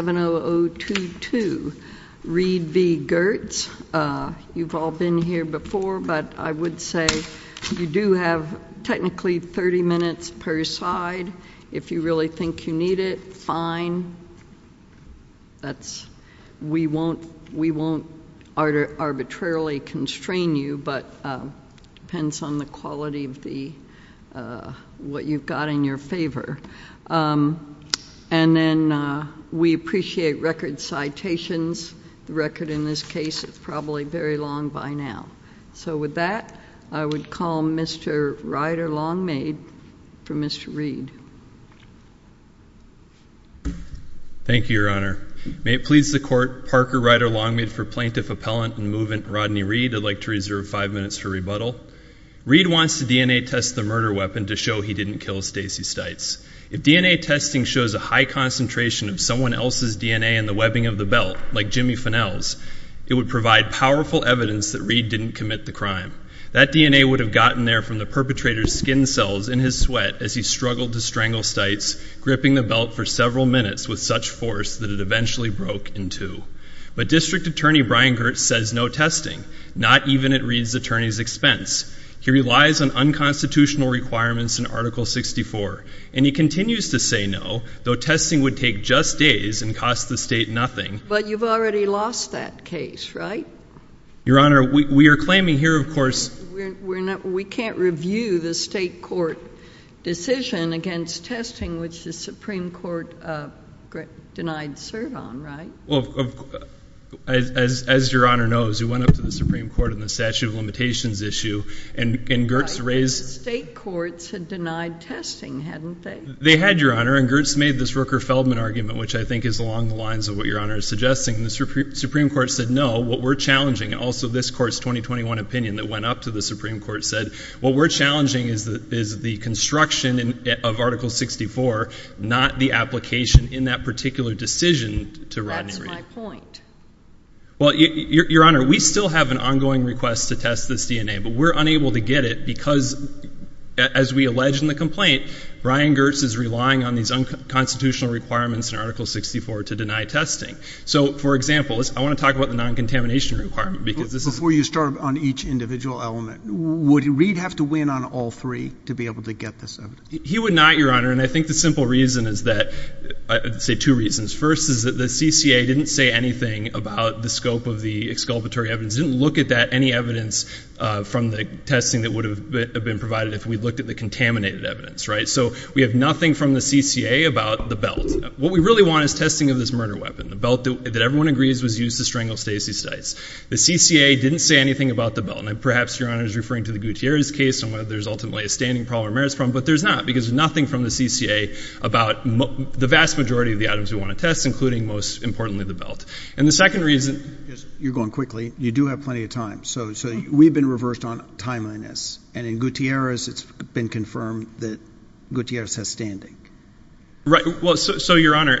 You've all been here before, but I would say you do have technically 30 minutes per side. If you really think you need it, fine. We won't arbitrarily constrain you, but it depends on the quality of what you've got in your favor. We appreciate record citations. The record in this case is probably very long by now. So with that, I would call Mr. Ryder Longmaid for Mr. Reed. Thank you, Your Honor. May it please the Court, Parker Ryder Longmaid for Plaintiff Appellant and Movement Rodney Reed. I'd like to reserve five minutes for rebuttal. Reed wants to DNA test the murder weapon to show he didn't kill Stacey Stites. If DNA testing shows a high concentration of someone else's DNA in the webbing of the belt, like Jimmy Fennell's, it would provide powerful evidence that Reed didn't commit the crime. That DNA would have gotten there from the perpetrator's skin cells in his sweat as he struggled to strangle Stites, gripping the belt for several minutes with such force that it eventually broke in two. But District Attorney Brian Girt says no testing, not even at Reed's attorney's expense. He relies on unconstitutional requirements in Article 64, and he continues to say no, though testing would take just days and cost the state nothing. But you've already lost that case, right? Your Honor, we are claiming here, of course. We can't review the state court decision against testing, which the Supreme Court denied cert on, right? Well, as Your Honor knows, we went up to the Supreme Court on the statute of limitations issue, and Girt's raised- State courts had denied testing, hadn't they? They had, Your Honor, and Girt's made this Rooker-Feldman argument, which I think is along the lines of what Your Honor is suggesting. And the Supreme Court said no. What we're challenging, and also this Court's 2021 opinion that went up to the Supreme Court said, what we're challenging is the construction of Article 64, not the application in that particular decision to Rodney. That's my point. Well, Your Honor, we still have an ongoing request to test this DNA, but we're unable to get it because, as we allege in the complaint, Brian Girt's is relying on these unconstitutional requirements in Article 64 to deny testing. So, for example, I want to talk about the non-contamination requirement because this is- Before you start on each individual element, would Reid have to win on all three to be able to get this evidence? He would not, Your Honor, and I think the simple reason is that, I'd say two reasons. First is that the CCA didn't say anything about the scope of the exculpatory evidence, didn't look at any evidence from the testing that would have been provided if we'd looked at the contaminated evidence, right? So we have nothing from the CCA about the belt. What we really want is testing of this murder weapon. The belt that everyone agrees was used to strangle Stacey Stites. The CCA didn't say anything about the belt. And perhaps Your Honor is referring to the Gutierrez case, and whether there's ultimately a standing problem or a merits problem, but there's not, because there's nothing from the CCA about the vast majority of the items we want to test, including, most importantly, the belt. And the second reason- You're going quickly. You do have plenty of time. So we've been reversed on timeliness. And in Gutierrez, it's been confirmed that Gutierrez has standing. Right. Well, so, Your Honor,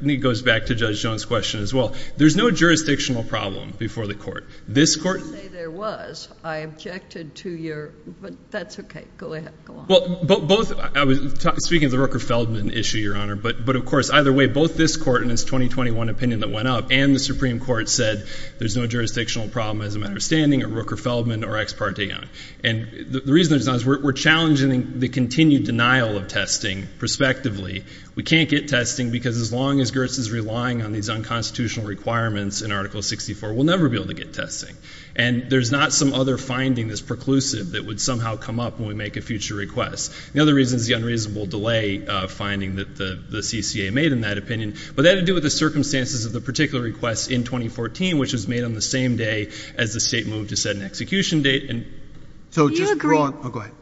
it goes back to Judge Jones' question as well. There's no jurisdictional problem before the court. This court- You say there was. I objected to your- But that's okay. Go ahead. Go on. Both- Speaking of the Rooker-Feldman issue, Your Honor, but of course, either way, both this court and its 2021 opinion that went up and the Supreme Court said there's no jurisdictional problem as a matter of standing at Rooker-Feldman or Ex parte Young. And the reason there's not is we're challenging the continued denial of testing, prospectively. We can't get testing because as long as Gerst is relying on these unconstitutional requirements in Article 64, we'll never be able to get testing. And there's not some other finding that's preclusive that would somehow come up when we make a future request. The other reason is the unreasonable delay finding that the CCA made in that opinion. But that had to do with the circumstances of the particular request in 2014, which was made on the same day as the state moved to set an execution date. And- So, just- Oh, go ahead.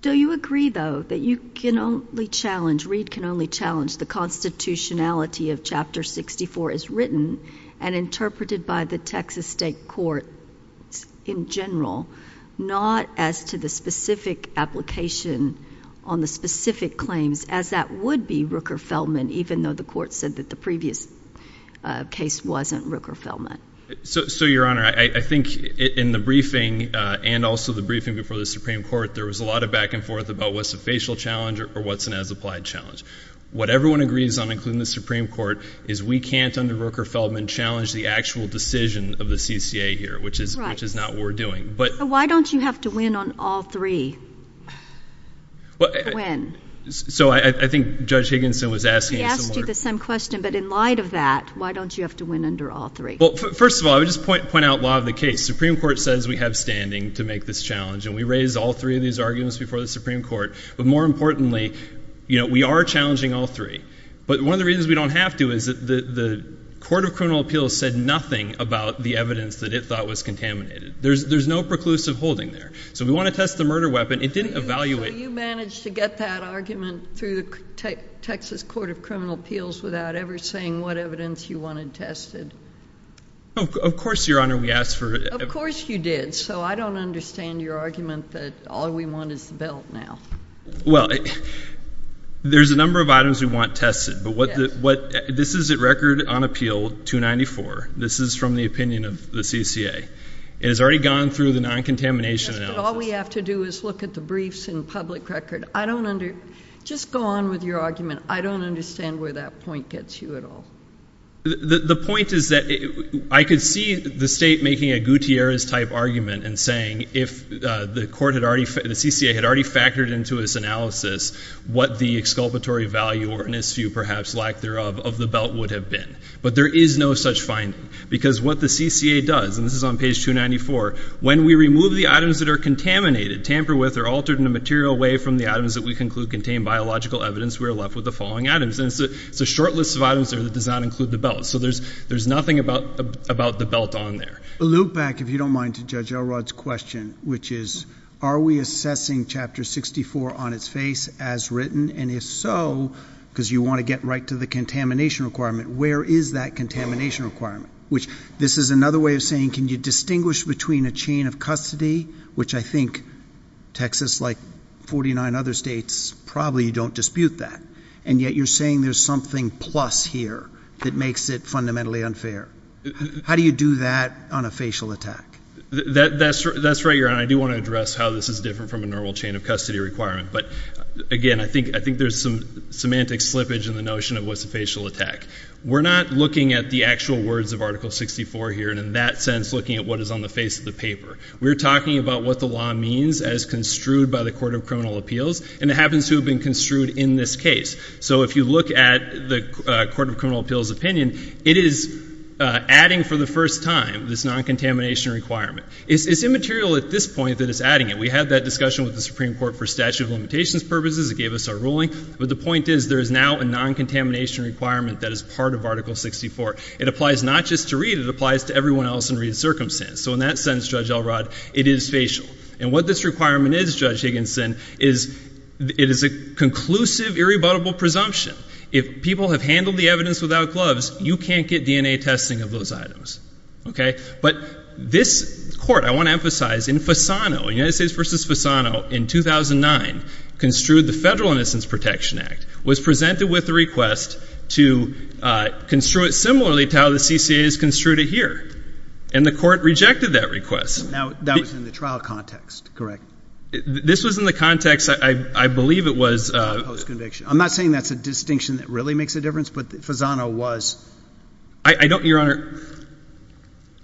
Do you agree, though, that you can only challenge, Reid can only challenge the constitutionality of Chapter 64 as written and interpreted by the Texas State Court in general, not as to the specific application on the specific claims as that would be Rooker-Feldman, even though the court said that the previous case wasn't Rooker-Feldman? So, Your Honor, I think in the briefing and also the briefing before the Supreme Court, there was a lot of back and forth about what's a facial challenge or what's an as-applied challenge. What everyone agrees on, including the Supreme Court, is we can't, under Rooker-Feldman, challenge the actual decision of the CCA here, which is not what we're doing. But- Why don't you have to win on all three? When? So, I think Judge Higginson was asking a similar- He asked you the same question, but in light of that, why don't you have to win under all three? Well, first of all, I would just point out law of the case. Supreme Court says we have standing to make this challenge, and we raised all three of these arguments before the Supreme Court. But more importantly, we are challenging all three. But one of the reasons we don't have to is that the Court of Criminal Appeals said nothing about the evidence that it thought was contaminated. There's no preclusive holding there. So, we want to test the murder weapon. It didn't evaluate- So, you managed to get that argument through the Texas Court of Criminal Appeals without ever saying what evidence you wanted tested? Of course, Your Honor, we asked for- Of course you did. So, I don't understand your argument that all we want is the belt now. Well, there's a number of items we want tested. But this is a record on appeal 294. This is from the opinion of the CCA. It has already gone through the non-contamination analysis. Yes, but all we have to do is look at the briefs and public record. I don't under- Just go on with your argument. I don't understand where that point gets you at all. The point is that I could see the state making a Gutierrez-type argument and saying if the CCA had already factored into its analysis what the exculpatory value or, in its view, perhaps lack thereof, of the belt would have been. But there is no such finding. Because what the CCA does, and this is on page 294, when we remove the items that are contaminated, tamper with, or altered in a material way from the items that we conclude contain biological evidence, we are left with the following items. And it's a short list of items there that does not include the belt. So, there's nothing about the belt on there. Loop back, if you don't mind, to Judge Elrod's question, which is, are we assessing Chapter 64 on its face as written? And if so, because you want to get right to the contamination requirement, where is that contamination requirement? Which, this is another way of saying, can you distinguish between a chain of custody, which I think Texas, like 49 other states, probably don't dispute that. And yet, you're saying there's something plus here that makes it fundamentally unfair. How do you do that on a facial attack? That's right, Your Honor. I do want to address how this is different from a normal chain of custody requirement. But, again, I think there's some semantic slippage in the notion of what's a facial attack. We're not looking at the actual words of Article 64 here, and in that sense, looking at what is on the face of the paper. We're talking about what the law means as construed by the Court of Criminal Appeals. And it happens to have been construed in this case. So if you look at the Court of Criminal Appeals opinion, it is adding for the first time this non-contamination requirement. It's immaterial at this point that it's adding it. We had that discussion with the Supreme Court for statute of limitations purposes. It gave us our ruling. But the point is, there is now a non-contamination requirement that is part of Article 64. It applies not just to Reed. It applies to everyone else in Reed's circumstance. So in that sense, Judge Elrod, it is facial. And what this requirement is, Judge Higginson, is it is a conclusive, irrebuttable presumption. If people have handled the evidence without gloves, you can't get DNA testing of those items. Okay? But this Court, I want to emphasize, in Fasano, United States v. Fasano, in 2009, construed the Federal Innocence Protection Act, was presented with a request to construe it similarly to how the CCA has construed it here. And the Court rejected that request. Now, that was in the trial context, correct? This was in the context, I believe it was— Post-conviction. I'm not saying that's a distinction that really makes a difference. But Fasano was— I don't—Your Honor,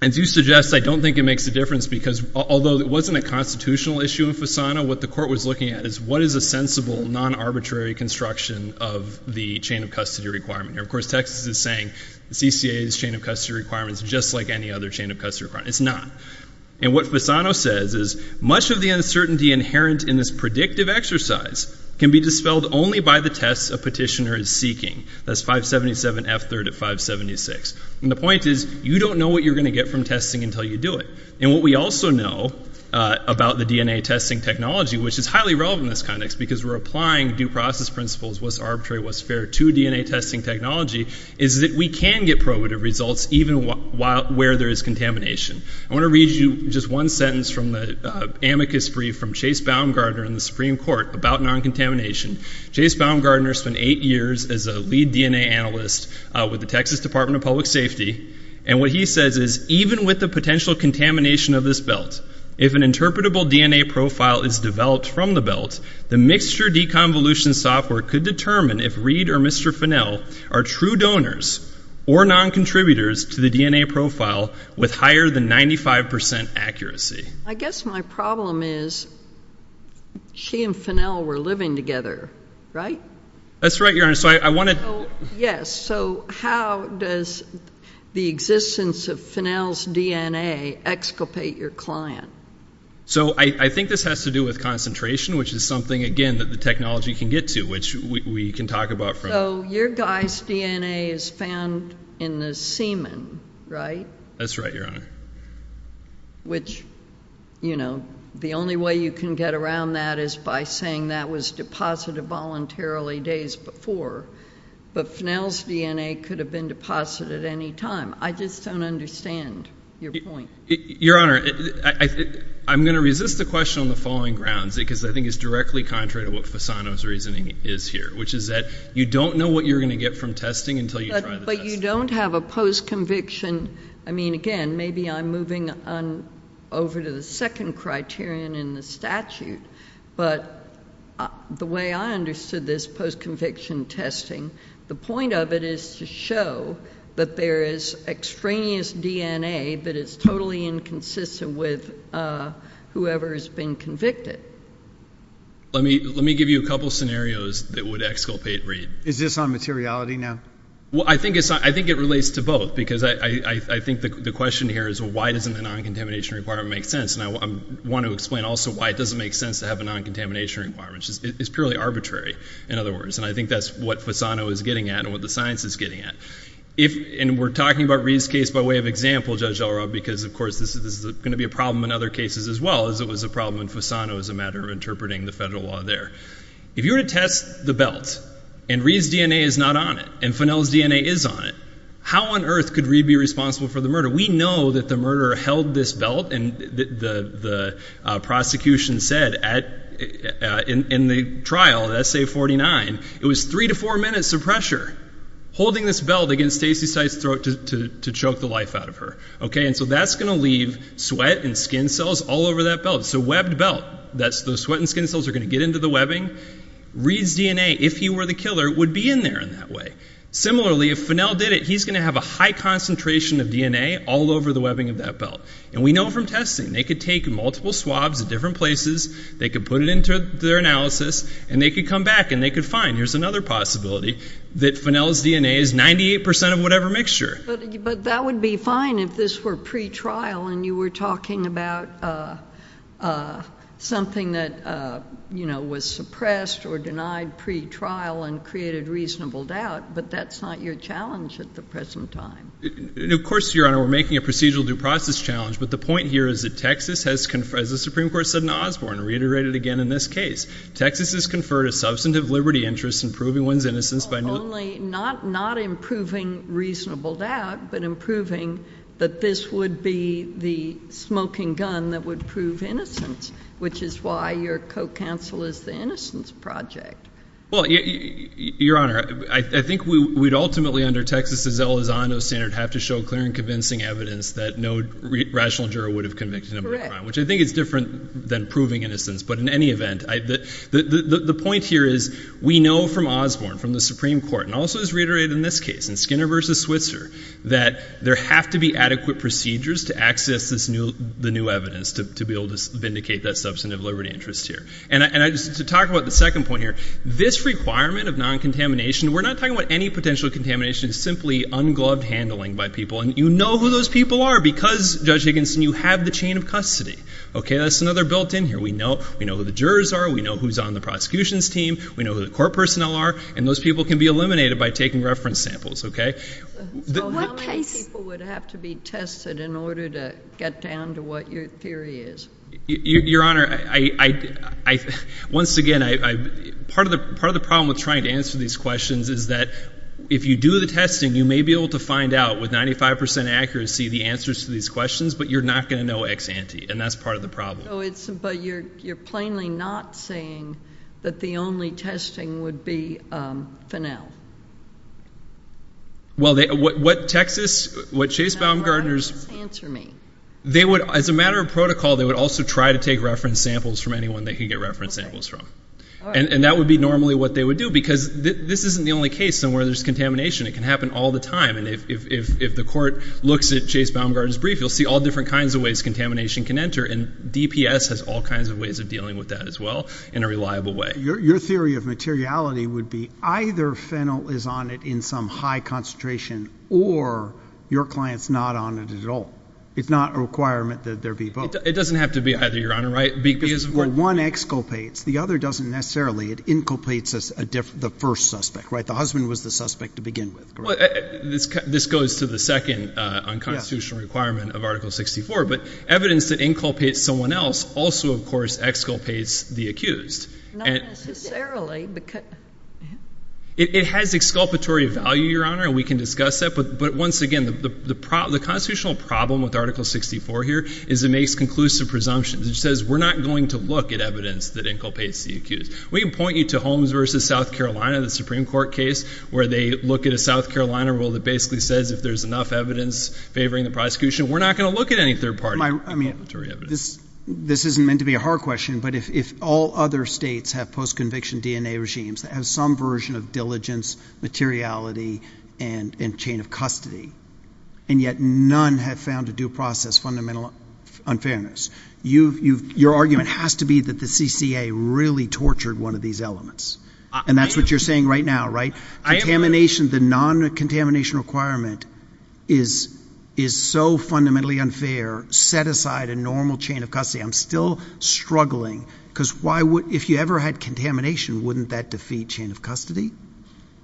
as you suggest, I don't think it makes a difference. Because although it wasn't a constitutional issue in Fasano, what the Court was looking at is, what is a sensible, non-arbitrary construction of the chain of custody requirement here? Of course, Texas is saying the CCA's chain of custody requirement is just like any other chain of custody requirement. It's not. And what Fasano says is, much of the uncertainty inherent in this predictive exercise can be dispelled only by the tests a petitioner is seeking. That's 577F3rd at 576. And the point is, you don't know what you're going to get from testing until you do it. And what we also know about the DNA testing technology, which is highly relevant in this context because we're applying due process principles, what's arbitrary, what's fair, to DNA testing technology, is that we can get probative results even where there is contamination. I want to read you just one sentence from the amicus brief from Chase Baumgartner in the Supreme Court about non-contamination. Chase Baumgartner spent eight years as a lead DNA analyst with the Texas Department of Public Safety. And what he says is, even with the potential contamination of this belt, if an interpretable DNA profile is developed from the belt, the mixture deconvolution software could determine if Reed or Mr. Fennell are true donors or non-contributors to the DNA profile with higher than 95% accuracy. I guess my problem is, she and Fennell were living together, right? That's right, Your Honor. So I want to- Yes. So how does the existence of Fennell's DNA exculpate your client? So I think this has to do with concentration, which is something, again, that the technology can get to, which we can talk about from- So your guy's DNA is found in the semen, right? That's right, Your Honor. Which, you know, the only way you can get around that is by saying that was deposited voluntarily days before. But Fennell's DNA could have been deposited at any time. I just don't understand your point. Your Honor, I'm going to resist the question on the following grounds, because I think it's directly contrary to what Fasano's reasoning is here, which is that you don't know what you're going to get from testing until you try the test. But you don't have a post-conviction- I mean, again, maybe I'm moving over to the second criterion in the statute, but the way I understood this post-conviction testing, the point of it is to show that there is extraneous DNA that is totally inconsistent with whoever has been convicted. Let me give you a couple scenarios that would exculpate Reed. Is this on materiality now? Well, I think it relates to both, because I think the question here is, well, why doesn't the non-contamination requirement make sense? And I want to explain also why it doesn't make sense to have a non-contamination requirement. It's purely arbitrary, in other words. And I think that's what Fasano is getting at and what the science is getting at. And we're talking about Reed's case by way of example, Judge Delrub, because, of course, this is going to be a problem in other cases as well, as it was a problem in Fasano as a matter of interpreting the federal law there. If you were to test the belt, and Reed's DNA is not on it, and Fennell's DNA is on it, how on earth could Reed be responsible for the murder? We know that the murderer held this belt, and the prosecution said in the trial, in Essay 49, it was three to four minutes of pressure holding this belt against Stacey Seitz's throat to choke the life out of her, okay? And so that's going to leave sweat and skin cells all over that belt. So webbed belt, those sweat and skin cells are going to get into the webbing. Reed's DNA, if he were the killer, would be in there in that way. Similarly, if Fennell did it, he's going to have a high concentration of DNA all over the webbing of that belt. And we know from testing, they could take multiple swabs at different places, they could put it into their analysis, and they could come back and they could find, here's another possibility, that Fennell's DNA is 98% of whatever mixture. But that would be fine if this were pre-trial and you were talking about something that was suppressed or denied pre-trial and created reasonable doubt, but that's not your challenge at the present time. Of course, Your Honor, we're making a procedural due process challenge, but the point here is that Texas has, as the Supreme Court said in Osborne, reiterated again in this case, Texas has conferred a substantive liberty interest in proving one's innocence by not improving reasonable doubt, but improving that this would be the smoking gun that would prove innocence, which is why your co-counsel is the Innocence Project. Well, Your Honor, I think we'd ultimately, under Texas' Elizondo standard, have to show clear and convincing evidence that no rational juror would have convicted him of a crime, which I think is different than proving innocence. But in any event, the point here is we know from Osborne, from the Supreme Court, and also as reiterated in this case, in Skinner v. Switzer, that there have to be adequate procedures to access the new evidence to be able to vindicate that substantive liberty interest here. And to talk about the second point here, this requirement of non-contamination, we're not talking about any potential contamination, it's simply ungloved handling by people. And you know who those people are because, Judge Higginson, you have the chain of custody. Okay, that's another built-in here. We know who the jurors are, we know who's on the prosecution's team, we know who the court personnel are, and those people can be eliminated by taking reference samples, okay? So how many people would have to be tested in order to get down to what your theory is? Your Honor, once again, part of the problem with trying to answer these questions is that if you do the testing, you may be able to find out with 95 percent accuracy the answers to these questions, but you're not going to know ex-ante, and that's part of the problem. But you're plainly not saying that the only testing would be Fennel? Well, what Texas, what Chase Baumgardner's... Now, why don't you just answer me? They would, as a matter of protocol, they would also try to take reference samples from anyone they could get reference samples from. And that would be normally what they would do because this isn't the only case somewhere there's contamination. It can happen all the time. And if the court looks at Chase Baumgardner's brief, you'll see all different kinds of ways and DPS has all kinds of ways of dealing with that as well in a reliable way. Your theory of materiality would be either Fennel is on it in some high concentration or your client's not on it at all. It's not a requirement that there be both. It doesn't have to be either, Your Honor, right? One exculpates. The other doesn't necessarily. It inculpates the first suspect, right? The husband was the suspect to begin with. This goes to the second unconstitutional requirement of Article 64. But evidence that inculpates someone else also, of course, exculpates the accused. Not necessarily. It has exculpatory value, Your Honor, and we can discuss that. But once again, the constitutional problem with Article 64 here is it makes conclusive presumptions. It says we're not going to look at evidence that inculpates the accused. We can point you to Holmes v. South Carolina, the Supreme Court case, where they look at a South Carolina rule that basically says if there's enough evidence favoring the prosecution, we're not going to look at any third party inculpatory evidence. I mean, this isn't meant to be a hard question, but if all other states have post-conviction DNA regimes that have some version of diligence, materiality, and chain of custody, and yet none have found a due process fundamental unfairness, your argument has to be that the CCA really tortured one of these elements. And that's what you're saying right now, right? The non-contamination requirement is so fundamentally unfair. Set aside a normal chain of custody. I'm still struggling, because if you ever had contamination, wouldn't that defeat chain of custody?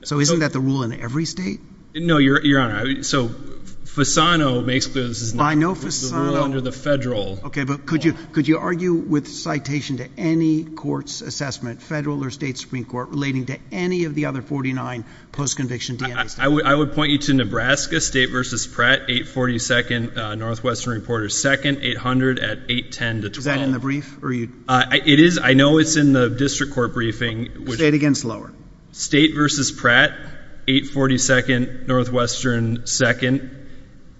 So isn't that the rule in every state? No, Your Honor. So Fasano makes clear this is not the rule under the federal law. OK, but could you argue with citation to any court's assessment, federal or state post-conviction DNA states? I would point you to Nebraska, State v. Pratt, 842nd, Northwestern Reporter, 2nd, 800 at 810 to 12. Is that in the brief? I know it's in the district court briefing. State against lower? State v. Pratt, 842nd, Northwestern, 2nd,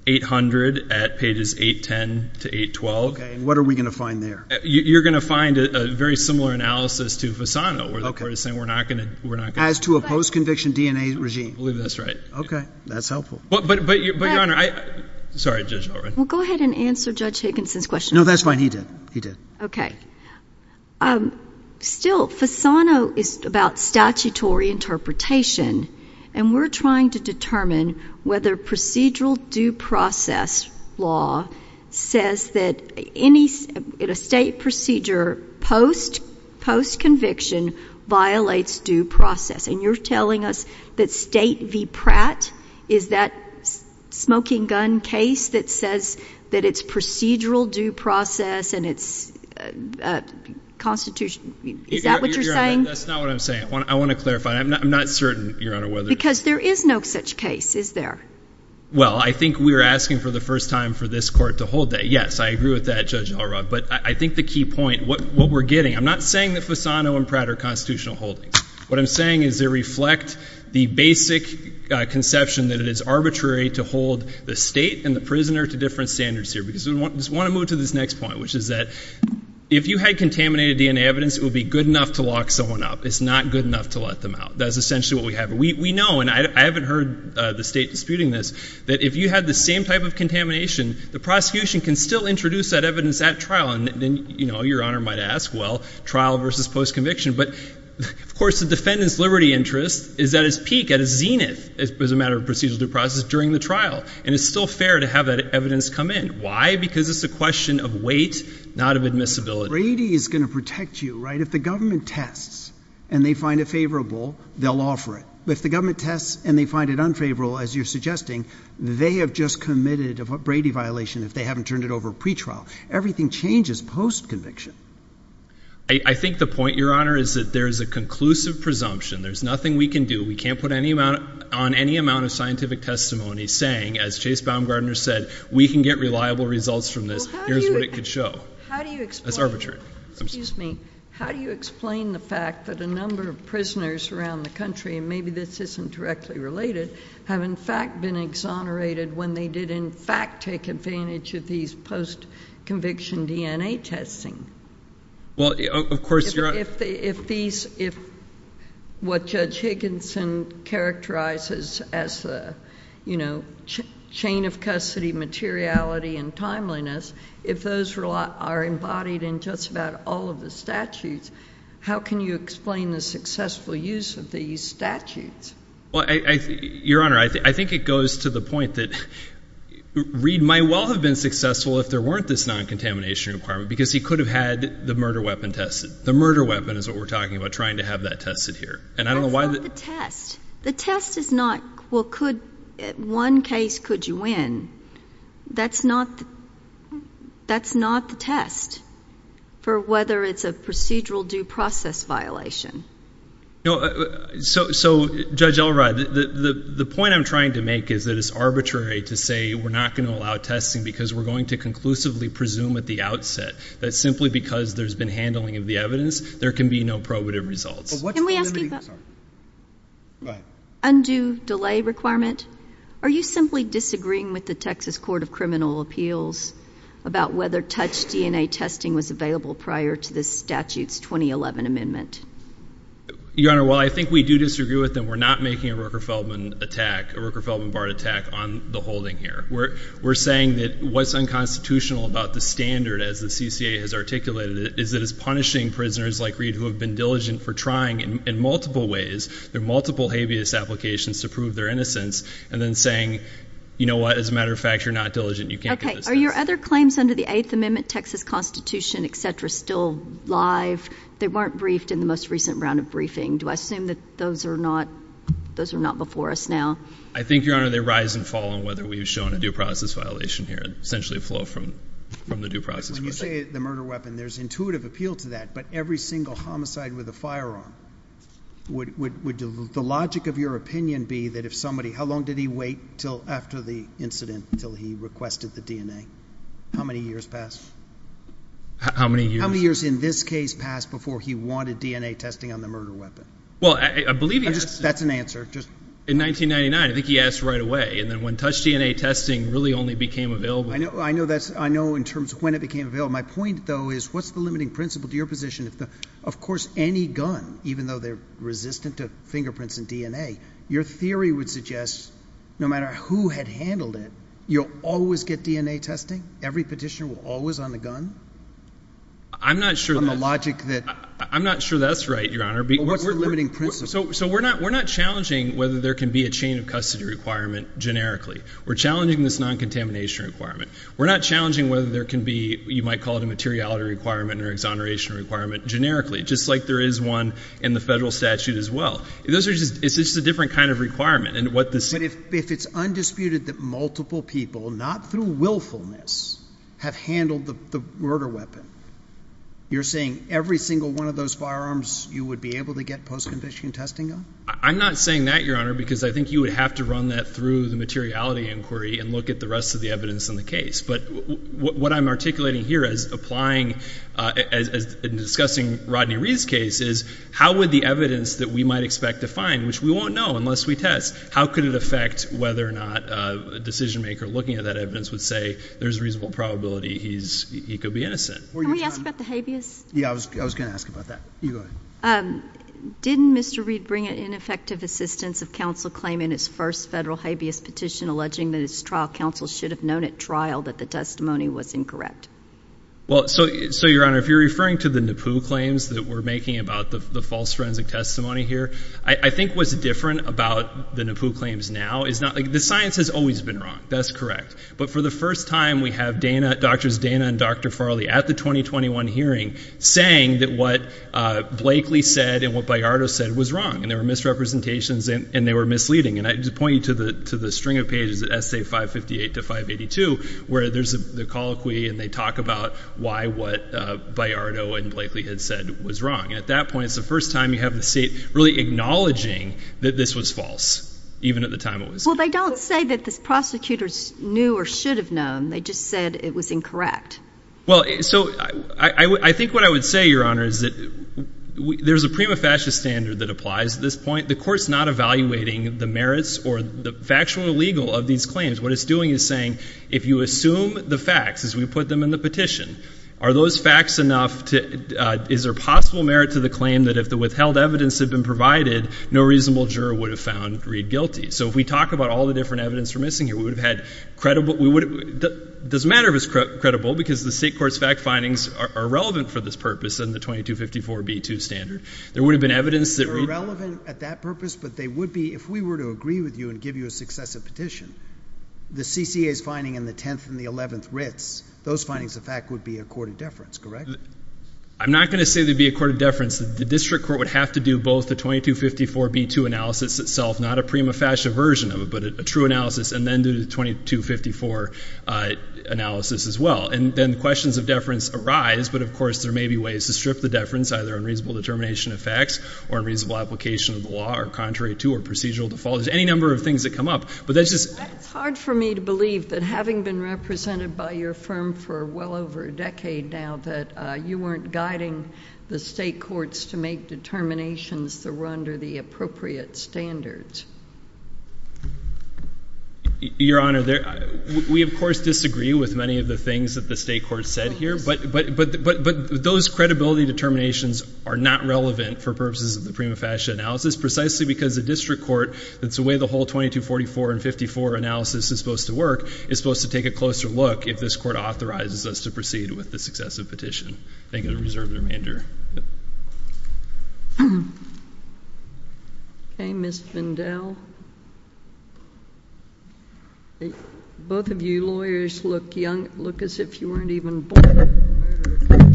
800 at pages 810 to 812. OK, and what are we going to find there? You're going to find a very similar analysis to Fasano, where the court is saying we're not going to. As to a post-conviction DNA regime. I believe that's right. OK, that's helpful. But, Your Honor, I... Sorry, Judge Alright. Well, go ahead and answer Judge Higginson's question. No, that's fine. He did. He did. OK. Still, Fasano is about statutory interpretation, and we're trying to determine whether procedural due process law says that any state procedure post-conviction violates due process. And you're telling us that state v. Pratt is that smoking gun case that says that it's procedural due process and it's constitutional. Is that what you're saying? That's not what I'm saying. I want to clarify. I'm not certain, Your Honor, whether... Because there is no such case, is there? Well, I think we're asking for the first time for this court to hold that. Yes, I agree with that, Judge Alright. But I think the key point, what we're getting... I'm not saying that Fasano and Pratt are constitutional holdings. What I'm saying is they reflect the basic conception that it is arbitrary to hold the state and the prisoner to different standards here. Because we just want to move to this next point, which is that if you had contaminated DNA evidence, it would be good enough to lock someone up. It's not good enough to let them out. That's essentially what we have. We know, and I haven't heard the state disputing this, that if you had the same type of contamination, the prosecution can still introduce that evidence at trial. And then, you know, Your Honor might ask, well, trial versus post-conviction. But of course, the defendant's liberty interest is at its peak, at its zenith, as a matter of procedural due process, during the trial. And it's still fair to have that evidence come in. Why? Because it's a question of weight, not of admissibility. Brady is going to protect you, right? If the government tests and they find it favorable, they'll offer it. But if the government tests and they find it unfavorable, as you're suggesting, they have just committed a Brady violation if they haven't turned it over pre-trial. Everything changes post-conviction. I think the point, Your Honor, is that there is a conclusive presumption. There's nothing we can do. We can't put on any amount of scientific testimony saying, as Chase Baumgardner said, we can get reliable results from this. Here's what it could show. How do you explain? That's arbitrary. Excuse me. How do you explain the fact that a number of prisoners around the country, and maybe this isn't directly related, have, in fact, been exonerated when they did, in fact, take advantage of these post-conviction DNA testing? Well, of course, Your Honor. If what Judge Higginson characterizes as the chain of custody materiality and timeliness, if those are embodied in just about all of the statutes, how can you explain the successful use of these statutes? Well, Your Honor, I think it goes to the point that Reid might well have been successful if there weren't this non-contamination requirement, because he could have had the murder weapon tested. The murder weapon is what we're talking about, trying to have that tested here. And I don't know why— That's not the test. The test is not, well, could—one case, could you win? That's not the test for whether it's a procedural due process violation. No, so, Judge Elrod, the point I'm trying to make is that it's arbitrary to say we're not going to allow testing because we're going to conclusively presume at the outset that simply because there's been handling of the evidence, there can be no probative results. Can we ask you about— Sorry, go ahead. Undue delay requirement? Are you simply disagreeing with the Texas Court of Criminal Appeals about whether touch DNA testing was available prior to this statute's 2011 amendment? Your Honor, while I think we do disagree with them, we're not making a Rooker-Feldman attack, a Rooker-Feldman-Bard attack on the holding here. We're saying that what's unconstitutional about the standard, as the CCA has articulated it, is that it's punishing prisoners like Reid who have been diligent for trying in multiple ways. There are multiple habeas applications to prove their innocence and then saying, you know what, as a matter of fact, you're not diligent. You can't get this test. Are your other claims under the Eighth Amendment, Texas Constitution, et cetera, still live? They weren't briefed in the most recent round of briefing. Do I assume that those are not before us now? I think, Your Honor, they rise and fall on whether we've shown a due process violation here, essentially a flow from the due process question. When you say the murder weapon, there's intuitive appeal to that, but every single homicide with a firearm, would the logic of your opinion be that if somebody, how long did he wait after the incident until he requested the DNA? How many years passed? How many years? How many years in this case passed before he wanted DNA testing on the murder weapon? Well, I believe he asked— That's an answer. In 1999, I think he asked right away, and then when touch DNA testing really only became available— I know in terms of when it became available. My point, though, is what's the limiting principle to your position? Of course, any gun, even though they're resistant to fingerprints and DNA, your theory would suggest no matter who had handled it, you'll always get DNA testing? Every petitioner will always on the gun? I'm not sure— On the logic that— I'm not sure that's right, Your Honor. But what's the limiting principle? So we're not challenging whether there can be a chain of custody requirement generically. We're challenging this non-contamination requirement. We're not challenging whether there can be, you might call it a materiality requirement or exoneration requirement generically, just like there is one in the federal statute as well. Those are just—it's just a different kind of requirement. And what this— But if it's undisputed that multiple people, not through willfulness, have handled the murder weapon, you're saying every single one of those firearms you would be able to get post-conviction testing on? I'm not saying that, Your Honor, because I think you would have to run that through the materiality inquiry and look at the rest of the evidence in the case. But what I'm articulating here as applying—as discussing Rodney Reed's case is how would the evidence that we might expect to find, which we won't know unless we test, how could it affect whether or not a decision-maker looking at that evidence would say there's a reasonable probability he's—he could be innocent? Were you trying— Can we ask about the habeas? Yeah, I was going to ask about that. You go ahead. Didn't Mr. Reed bring ineffective assistance of counsel claim in his first federal habeas petition alleging that his trial counsel should have known at trial that the testimony was incorrect? Well, so, Your Honor, if you're referring to the NAPU claims that we're making about the false forensic testimony here, I think what's different about the NAPU claims now is not—like, the science has always been wrong. That's correct. But for the first time, we have Dana—Doctors Dana and Dr. Farley at the 2021 hearing saying that what Blakely said and what Bayardo said was wrong. And there were misrepresentations, and they were misleading. And I just point you to the string of pages, essay 558 to 582, where there's the colloquy, and they talk about why what Bayardo and Blakely had said was wrong. At that point, it's the first time you have the state really acknowledging that this was false, even at the time it was— Well, they don't say that the prosecutors knew or should have known. They just said it was incorrect. Well, so, I think what I would say, Your Honor, is that there's a prima facie standard that applies at this point. The Court's not evaluating the merits or the factual or legal of these claims. What it's doing is saying, if you assume the facts as we put them in the petition, are those facts enough to—is there possible merit to the claim that if the withheld evidence had been provided, no reasonable juror would have found Reed guilty? So if we talk about all the different evidence we're missing here, we would have had credible—doesn't matter if it's credible, because the State court's fact findings are relevant for this purpose in the 2254b2 standard. There would have been evidence that Reed— Relevant at that purpose, but they would be—if we were to agree with you and give you a successive petition, the CCA's finding in the 10th and the 11th writs, those findings of fact would be a court of deference, correct? I'm not going to say they'd be a court of deference. The district court would have to do both the 2254b2 analysis itself, not a prima facie version of it, but a true analysis, and then do the 2254 analysis as well. And then questions of deference arise, but, of course, there may be ways to strip the either unreasonable determination of facts or unreasonable application of the law or contrary to or procedural default. There's any number of things that come up, but that's just— It's hard for me to believe that having been represented by your firm for well over a decade now, that you weren't guiding the State courts to make determinations that were under the appropriate standards. Your Honor, there—we, of course, disagree with many of the things that the State courts are doing, but the suitability determinations are not relevant for purposes of the prima facie analysis, precisely because the district court, that's the way the whole 2244 and 2254 analysis is supposed to work, is supposed to take a closer look if this court authorizes us to proceed with the successive petition. Thank you. I'm going to reserve the remainder. Okay, Ms. Vandell. Both of you lawyers look young—look as if you weren't even born.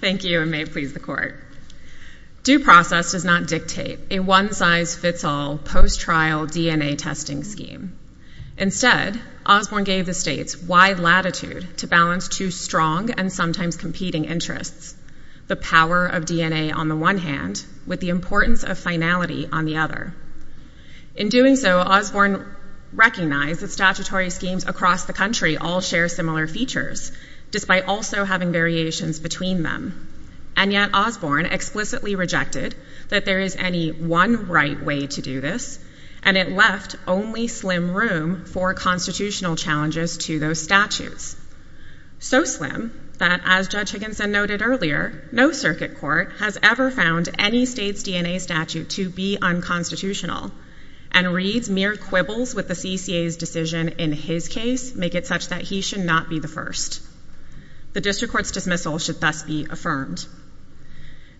Thank you, and may it please the Court, due process does not dictate a one-size-fits-all post-trial DNA testing scheme. Instead, Osborne gave the States wide latitude to balance two strong and sometimes competing interests—the power of DNA on the one hand, with the importance of finality on the other. In doing so, Osborne recognized that statutory schemes across the country, including the States, all share similar features, despite also having variations between them. And yet, Osborne explicitly rejected that there is any one right way to do this, and it left only slim room for constitutional challenges to those statutes—so slim that, as Judge Higginson noted earlier, no circuit court has ever found any State's DNA statute to be unconstitutional, and Reed's mere quibbles with the CCA's decision in his case make it such that he should not be the first. The district court's dismissal should thus be affirmed.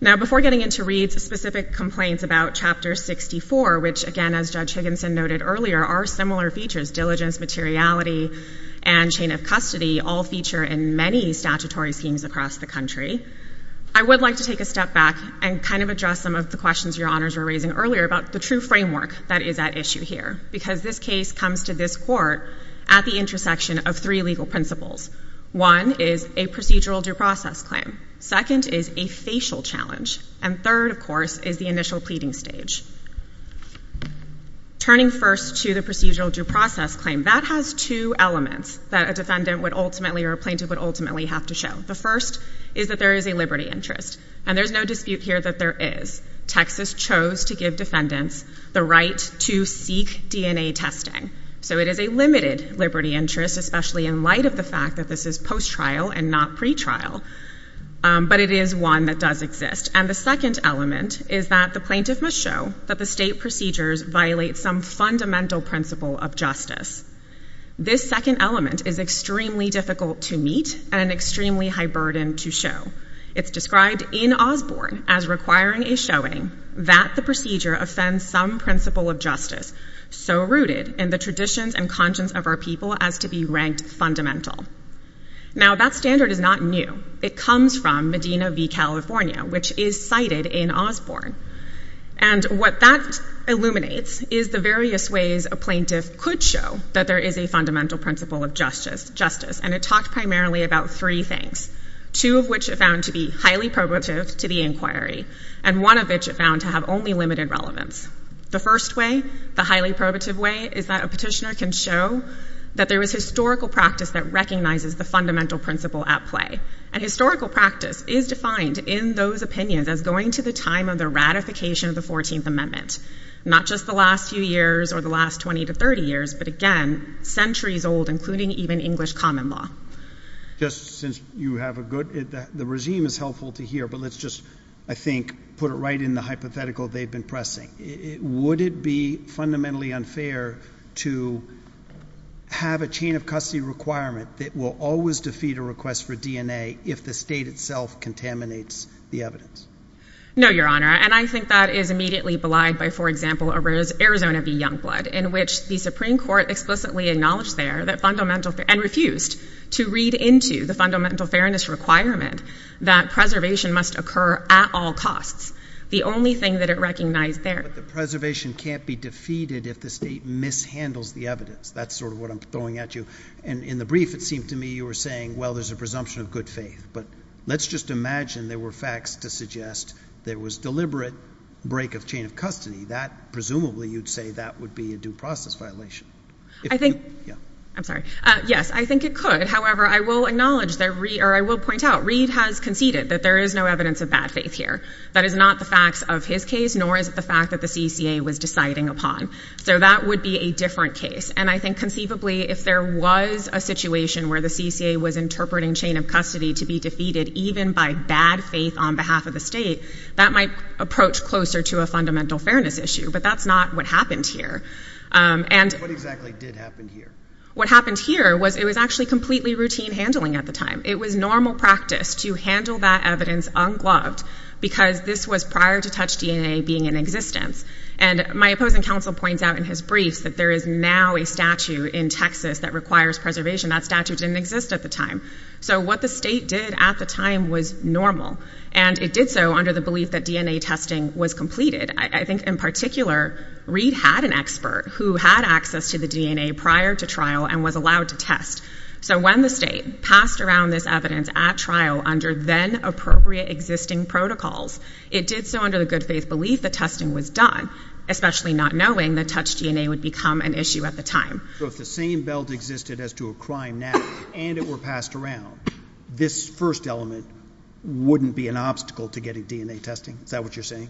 Now, before getting into Reed's specific complaints about Chapter 64, which, again, as Judge Higginson noted earlier, are similar features—diligence, materiality, and chain of custody—all feature in many statutory schemes across the country, I would like to take a step back and kind of address some of the questions your Honors were raising earlier about the true framework that is at issue here, because this case comes to this court at the intersection of three legal principles. One is a procedural due process claim. Second is a facial challenge. And third, of course, is the initial pleading stage. Turning first to the procedural due process claim, that has two elements that a defendant would ultimately or a plaintiff would ultimately have to show. The first is that there is a liberty interest, and there's no dispute here that there is. Texas chose to give defendants the right to seek DNA testing. So it is a limited liberty interest, especially in light of the fact that this is post-trial and not pre-trial, but it is one that does exist. And the second element is that the plaintiff must show that the state procedures violate some fundamental principle of justice. This second element is extremely difficult to meet and an extremely high burden to show. It's described in Osborne as requiring a showing that the procedure offends some principle of justice so rooted in the traditions and conscience of our people as to be ranked fundamental. Now, that standard is not new. It comes from Medina v. California, which is cited in Osborne. And what that illuminates is the various ways a plaintiff could show that there is a fundamental principle of justice, and it talked primarily about three things, two of which are found to be highly probative to the inquiry, and one of which are found to have only limited relevance. The first way, the highly probative way, is that a petitioner can show that there is historical practice that recognizes the fundamental principle at play. And historical practice is defined in those opinions as going to the time of the ratification of the 14th Amendment, not just the last few years or the last 20 to 30 years, but again, centuries old, including even English common law. Just since you have a good—the regime is helpful to hear, but let's just, I think, put it right in the hypothetical they've been pressing. Would it be fundamentally unfair to have a chain of custody requirement that will always defeat a request for DNA if the state itself contaminates the evidence? No, Your Honor, and I think that is immediately belied by, for example, Arizona v. Youngblood, in which the Supreme Court explicitly acknowledged there that fundamental—and refused to read into the fundamental fairness requirement that preservation must occur at all costs. The only thing that it recognized there— But the preservation can't be defeated if the state mishandles the evidence. That's sort of what I'm throwing at you. And in the brief, it seemed to me you were saying, well, there's a presumption of good faith. But let's just imagine there were facts to suggest there was deliberate break of chain of custody. That—presumably, you'd say that would be a due process violation. I think— Yeah. I'm sorry. Yes, I think it could. However, I will acknowledge that—or I will point out, Reed has conceded that there is no evidence of bad faith here. That is not the facts of his case, nor is it the fact that the CCA was deciding upon. So that would be a different case. And I think conceivably, if there was a situation where the CCA was interpreting chain of custody to be defeated even by bad faith on behalf of the state, that might approach closer to a fundamental fairness issue. But that's not what happened here. And— What exactly did happen here? What happened here was it was actually completely routine handling at the time. It was normal practice to handle that evidence ungloved because this was prior to TouchDNA being in existence. And my opposing counsel points out in his briefs that there is now a statute in Texas that requires preservation. That statute didn't exist at the time. So what the state did at the time was normal. And it did so under the belief that DNA testing was completed. I think, in particular, Reed had an expert who had access to the DNA prior to trial and was allowed to test. So when the state passed around this evidence at trial under then-appropriate existing protocols, it did so under the good faith belief that testing was done, especially not knowing that TouchDNA would become an issue at the time. So if the same belt existed as to a crime now and it were passed around, this first element wouldn't be an obstacle to getting DNA testing? Is that what you're saying?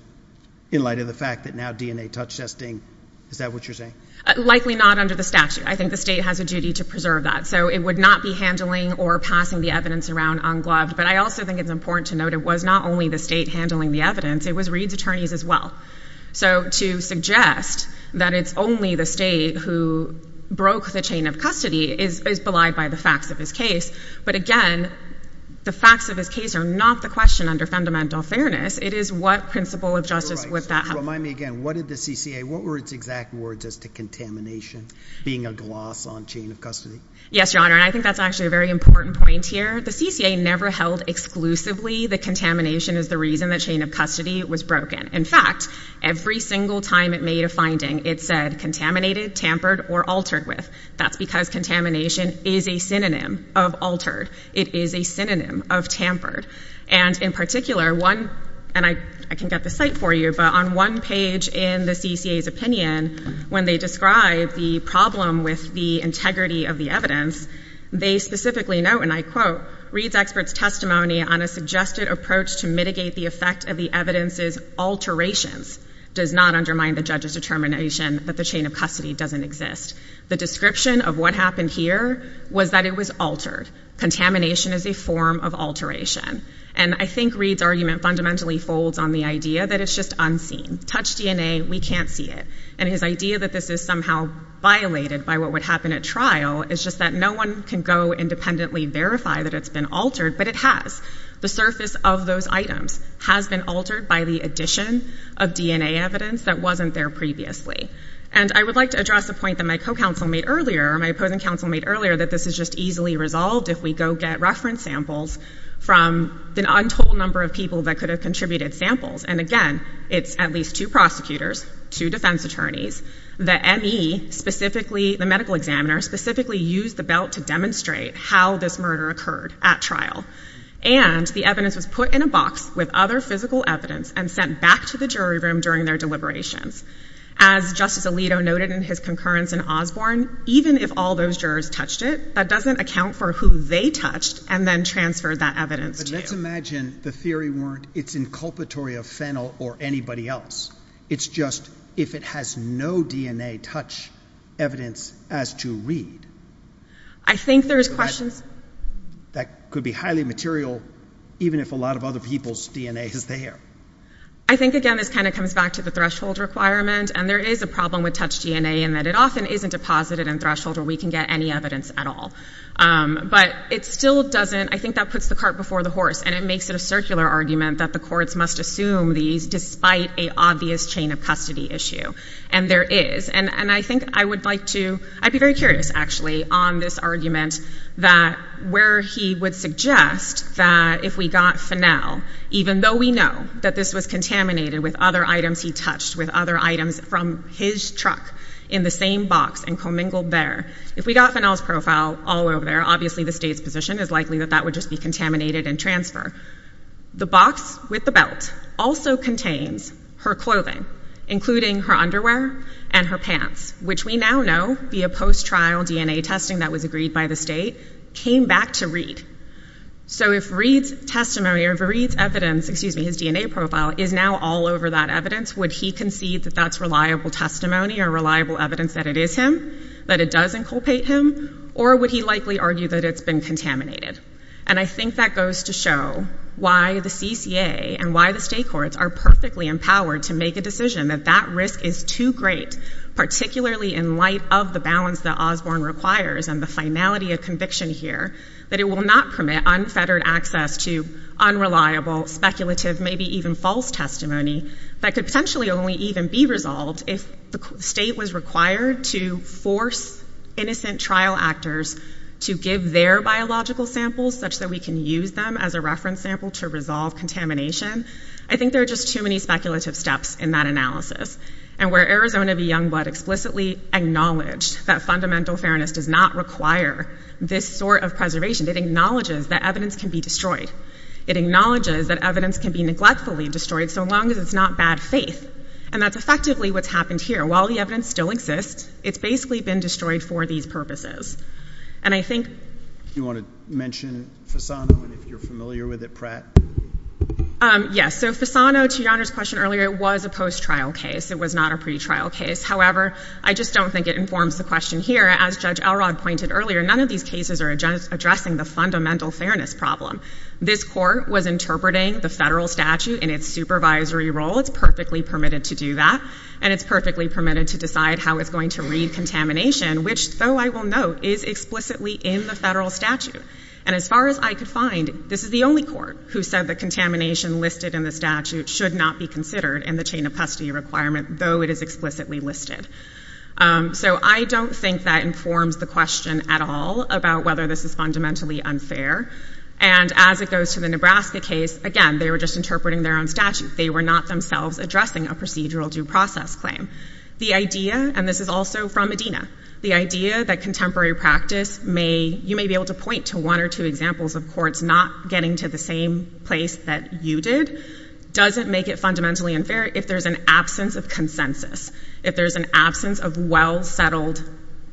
In light of the fact that now DNA touch testing—is that what you're saying? Likely not under the statute. I think the state has a duty to preserve that. It would not be handling or passing the evidence around ungloved. But I also think it's important to note it was not only the state handling the evidence. It was Reed's attorneys as well. So to suggest that it's only the state who broke the chain of custody is belied by the facts of his case. But again, the facts of his case are not the question under fundamental fairness. It is what principle of justice would that have— Remind me again. What did the CCA—what were its exact words as to contamination being a gloss on chain of custody? Yes, Your Honor. And I think that's actually a very important point here. The CCA never held exclusively that contamination is the reason that chain of custody was broken. In fact, every single time it made a finding, it said contaminated, tampered, or altered with. That's because contamination is a synonym of altered. It is a synonym of tampered. And in particular, one—and I can get the site for you—but on one page in the CCA's opinion, when they describe the problem with the integrity of the evidence, they specifically note, and I quote, Reed's expert's testimony on a suggested approach to mitigate the effect of the evidence's alterations does not undermine the judge's determination that the chain of custody doesn't exist. The description of what happened here was that it was altered. Contamination is a form of alteration. And I think Reed's argument fundamentally folds on the idea that it's just unseen. Touch DNA, we can't see it. And his idea that this is somehow violated by what would happen at trial is just that no one can go independently verify that it's been altered, but it has. The surface of those items has been altered by the addition of DNA evidence that wasn't there previously. And I would like to address a point that my co-counsel made earlier, or my opposing counsel made earlier, that this is just easily resolved if we go get reference samples from an untold number of people that could have contributed samples. And again, it's at least two prosecutors, two defense attorneys, the ME specifically, the medical examiner specifically used the belt to demonstrate how this murder occurred at trial. And the evidence was put in a box with other physical evidence and sent back to the jury room during their deliberations. As Justice Alito noted in his concurrence in Osborne, even if all those jurors touched it, that doesn't account for who they touched and then transferred that evidence to. Let's imagine the theory weren't it's inculpatory of Fennell or anybody else. It's just if it has no DNA touch evidence as to read. I think there's questions. That could be highly material, even if a lot of other people's DNA is there. I think, again, this kind of comes back to the threshold requirement. And there is a problem with touch DNA in that it often isn't deposited in threshold where we can get any evidence at all. But it still doesn't, I think that puts the cart before the horse. And it makes it a circular argument that the courts must assume these despite a obvious chain of custody issue. And there is. And I think I would like to, I'd be very curious actually on this argument that where he would suggest that if we got Fennell, even though we know that this was contaminated with other items he touched, with other items from his truck in the same box and commingled there, if we got Fennell's profile all over there, obviously the state's position is likely that that would just be contaminated and transfer. The box with the belt also contains her clothing, including her underwear and her pants, which we now know via post-trial DNA testing that was agreed by the state, came back to Reed. So if Reed's testimony or if Reed's evidence, excuse me, his DNA profile is now all over that evidence, would he concede that that's reliable testimony or reliable evidence that it is him? That it doesn't culpate him? Or would he likely argue that it's been contaminated? And I think that goes to show why the CCA and why the state courts are perfectly empowered to make a decision that that risk is too great, particularly in light of the balance that Osborne requires and the finality of conviction here, that it will not permit unfettered access to unreliable, speculative, maybe even false testimony that could potentially only even be resolved if the state was required to force innocent trial actors to give their biological samples such that we can use them as a reference sample to resolve contamination. I think there are just too many speculative steps in that analysis. And where Arizona v. Youngblood explicitly acknowledged that fundamental fairness does not require this sort of preservation, it acknowledges that evidence can be destroyed. It acknowledges that evidence can be neglectfully destroyed so long as it's not bad faith. And that's effectively what's happened here. While the evidence still exists, it's basically been destroyed for these purposes. And I think— Do you want to mention Fasano and if you're familiar with it, Pratt? Yes. So Fasano, to Your Honor's question earlier, was a post-trial case. It was not a pretrial case. However, I just don't think it informs the question here. As Judge Elrod pointed earlier, none of these cases are addressing the fundamental fairness problem. This court was interpreting the federal statute in its supervisory role. It's perfectly permitted to do that. And it's perfectly permitted to decide how it's going to read contamination, which, though I will note, is explicitly in the federal statute. And as far as I could find, this is the only court who said that contamination listed in the statute should not be considered in the chain of custody requirement, though it is explicitly listed. So I don't think that informs the question at all about whether this is fundamentally unfair. And as it goes to the Nebraska case, again, they were just interpreting their own statute. They were not themselves addressing a procedural due process claim. The idea—and this is also from Medina—the idea that contemporary practice may—you may be able to point to one or two examples of courts not getting to the same place that you did doesn't make it fundamentally unfair if there's an absence of consensus, if there's an absence of well-settled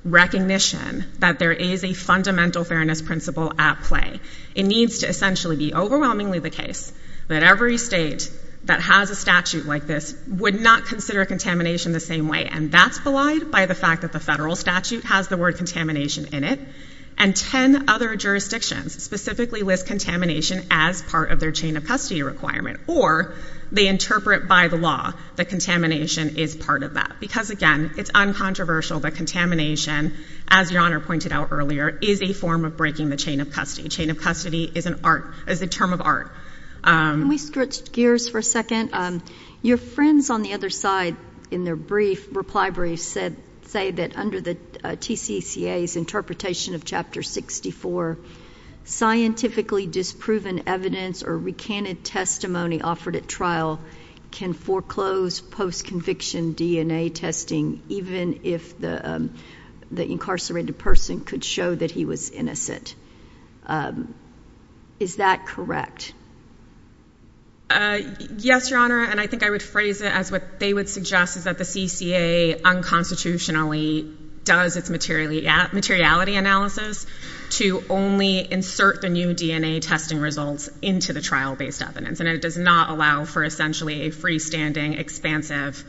recognition that there is a fundamental fairness principle at play. It needs to essentially be overwhelmingly the case that every state that has a statute like this would not consider contamination the same way. And that's belied by the fact that the federal statute has the word contamination in it. And 10 other jurisdictions specifically list contamination as part of their chain of custody requirement, or they interpret by the law that contamination is part of that. Because, again, it's uncontroversial that contamination, as Your Honor pointed out is a form of breaking the chain of custody. Chain of custody is an art—is a term of art. Can we switch gears for a second? Your friends on the other side in their brief, reply brief, said—say that under the TCCA's interpretation of Chapter 64, scientifically disproven evidence or recanted testimony offered at trial can foreclose post-conviction DNA testing even if the incarcerated person could show that he was innocent. Is that correct? Yes, Your Honor, and I think I would phrase it as what they would suggest is that the CCA unconstitutionally does its materiality analysis to only insert the new DNA testing results into the trial-based evidence. And it does not allow for essentially a freestanding, expansive,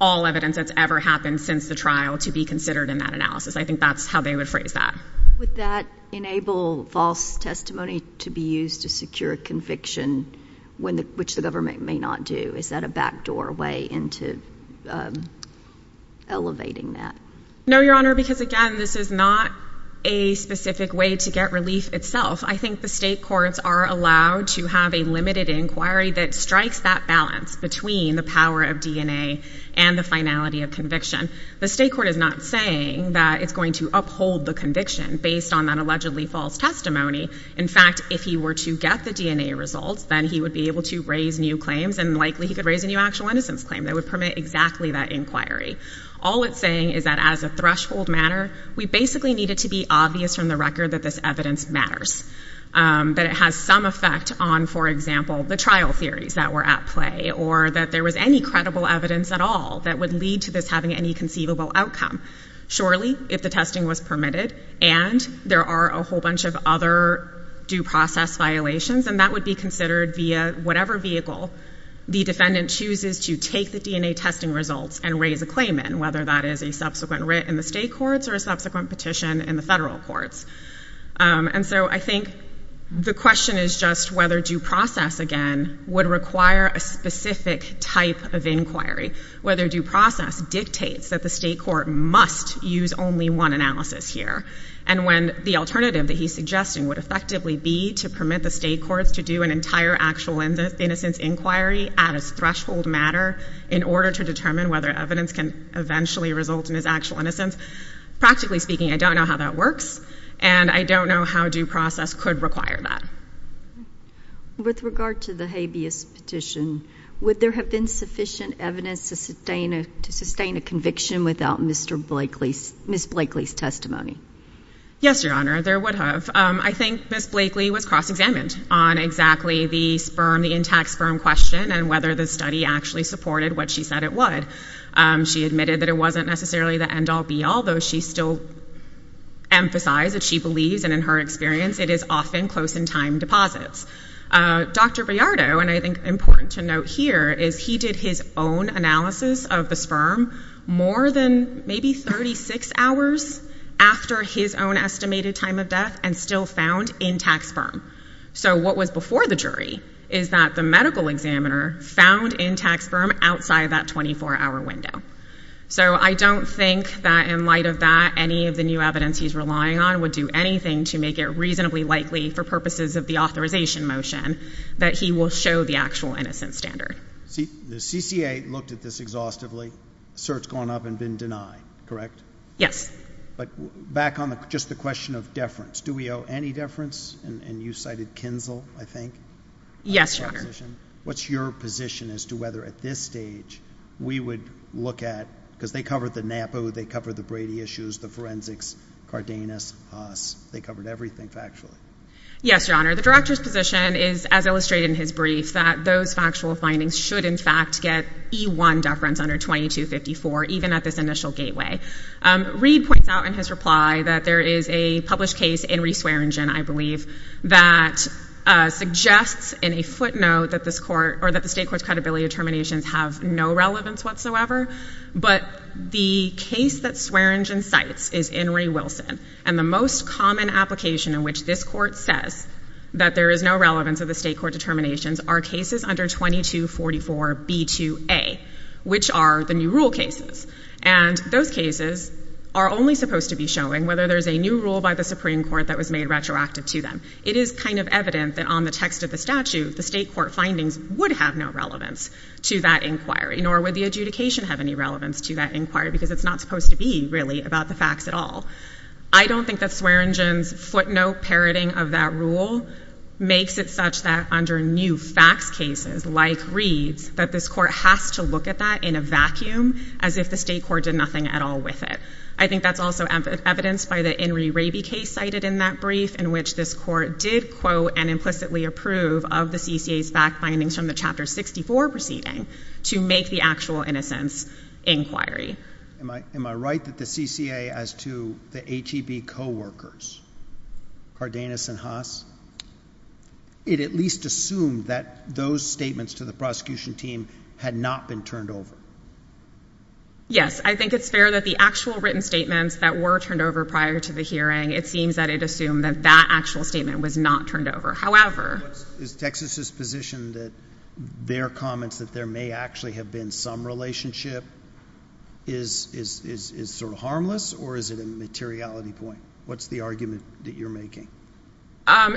all evidence that's ever happened since the trial to be considered in that analysis. I think that's how they would phrase that. Would that enable false testimony to be used to secure conviction, which the government may not do? Is that a backdoor way into elevating that? No, Your Honor, because, again, this is not a specific way to get relief itself. I think the state courts are allowed to have a limited inquiry that strikes that balance between the power of DNA and the finality of conviction. The state court is not saying that it's going to uphold the conviction based on that allegedly false testimony. In fact, if he were to get the DNA results, then he would be able to raise new claims and likely he could raise a new actual innocence claim that would permit exactly that inquiry. All it's saying is that as a threshold matter, we basically need it to be obvious from the record that this evidence matters, that it has some effect on, for example, the trial theories that were at play or that there was any credible evidence at all that would lead to this having any conceivable outcome. Surely, if the testing was permitted and there are a whole bunch of other due process violations and that would be considered via whatever vehicle the defendant chooses to take the DNA testing results and raise a claim in, whether that is a subsequent writ in the state courts or a subsequent petition in the federal courts. So I think the question is just whether due process, again, would require a specific type of inquiry. Whether due process dictates that the state court must use only one analysis here. And when the alternative that he's suggesting would effectively be to permit the state courts to do an entire actual innocence inquiry at its threshold matter in order to determine whether evidence can eventually result in his actual innocence, practically speaking, I don't know how that works and I don't know how due process could require that. With regard to the habeas petition, would there have been sufficient evidence to sustain a conviction without Ms. Blakely's testimony? Yes, Your Honor, there would have. I think Ms. Blakely was cross-examined on exactly the sperm, the intact sperm question and whether the study actually supported what she said it would. She admitted that it wasn't necessarily the end all, be all, though she still emphasized that she believes, and in her experience, it is often close in time deposits. Dr. Briardo, and I think important to note here, is he did his own analysis of the sperm more than maybe 36 hours after his own estimated time of death and still found intact sperm. So what was before the jury is that the medical examiner found intact sperm outside that 24-hour window. So I don't think that in light of that, any of the new evidence he's relying on would do anything to make it reasonably likely for purposes of the authorization motion that he will show the actual innocence standard. The CCA looked at this exhaustively. Cert's gone up and been denied, correct? Yes. But back on just the question of deference, do we owe any deference? And you cited Kinzel, I think? Yes, Your Honor. What's your position as to whether at this stage we would look at, because they covered the NAPU, they covered the Brady issues, the forensics, Cardenas, us. They covered everything factually. Yes, Your Honor. The director's position is, as illustrated in his brief, that those factual findings should, in fact, get E1 deference under 2254, even at this initial gateway. Reed points out in his reply that there is a published case in Reese Waringen, I believe, that suggests in a footnote that the state court's credibility determinations have no relevance whatsoever. But the case that Swearingen cites is In re. Wilson. And the most common application in which this court says that there is no relevance of the state court determinations are cases under 2244B2A, which are the new rule cases. And those cases are only supposed to be showing whether there's a new rule by the Supreme Court that's been directed to them. It is kind of evident that on the text of the statute, the state court findings would have no relevance to that inquiry, nor would the adjudication have any relevance to that inquiry, because it's not supposed to be, really, about the facts at all. I don't think that Swearingen's footnote parroting of that rule makes it such that under new facts cases, like Reed's, that this court has to look at that in a vacuum, as if the state court did nothing at all with it. I think that's also evidenced by the In re. Raby case cited in that brief, in which this court did quote and implicitly approve of the CCA's fact findings from the Chapter 64 proceeding to make the actual innocence inquiry. Am I right that the CCA, as to the HEB co-workers, Cardenas and Haas, it at least assumed that those statements to the prosecution team had not been turned over? Yes. I think it's fair that the actual written statements that were turned over prior to the hearing, it seems that it assumed that that actual statement was not turned over. However... Is Texas's position that their comments that there may actually have been some relationship is sort of harmless, or is it a materiality point? What's the argument that you're making?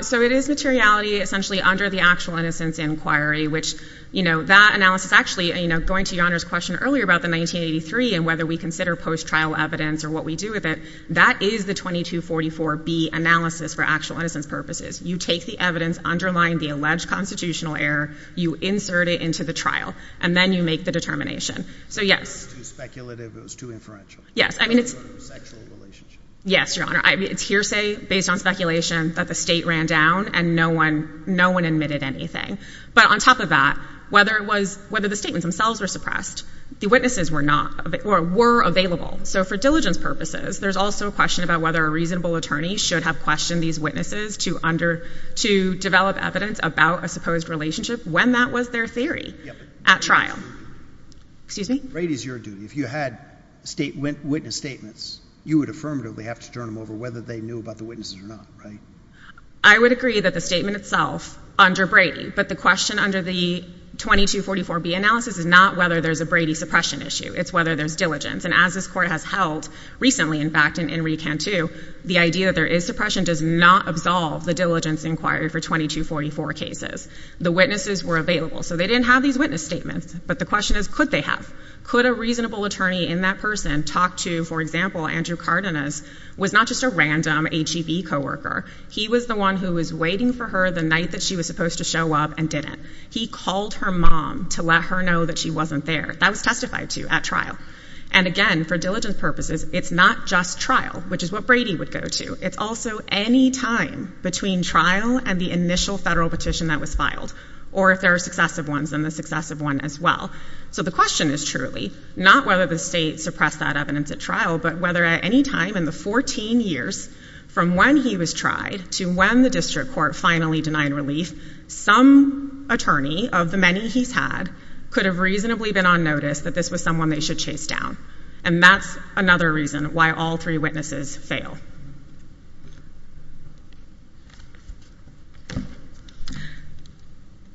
So it is materiality, essentially, under the actual innocence inquiry, which that analysis actually, going to Your Honor's question earlier about the 1983 and whether we consider post-trial evidence or what we do with it, that is the 2244B analysis for actual innocence purposes. You take the evidence underlying the alleged constitutional error, you insert it into the trial, and then you make the determination. So yes. It was too speculative, it was too inferential. Yes. I mean, it's... It was a sexual relationship. Yes, Your Honor. It's hearsay based on speculation that the state ran down and no one admitted anything. But on top of that, whether the statements themselves were suppressed, the witnesses were available. So for diligence purposes, there's also a question about whether a reasonable attorney should have questioned these witnesses to develop evidence about a supposed relationship when that was their theory at trial. Excuse me? Brady's your duty. If you had witness statements, you would affirmatively have to turn them over whether they knew about the witnesses or not, right? I would agree that the statement itself under Brady, but the question under the 2244B analysis is not whether there's a Brady suppression issue. It's whether there's diligence. And as this Court has held recently, in fact, in re-Cantu, the idea that there is suppression does not absolve the diligence inquired for 2244 cases. The witnesses were available. So they didn't have these witness statements. But the question is, could they have? Could a reasonable attorney in that person talk to, for example, Andrew Cardenas was not just a random HEB coworker. He was the one who was waiting for her the night that she was supposed to show up and didn't. He called her mom to let her know that she wasn't there. That was testified to at trial. And again, for diligence purposes, it's not just trial, which is what Brady would go to. It's also any time between trial and the initial federal petition that was filed, or if there are successive ones, then the successive one as well. So the question is truly not whether the state suppressed that evidence at trial, but whether at any time in the 14 years from when he was tried to when the district court finally denied relief, some attorney of the many he's had could have reasonably been on notice that this was someone they should chase down. And that's another reason why all three witnesses fail.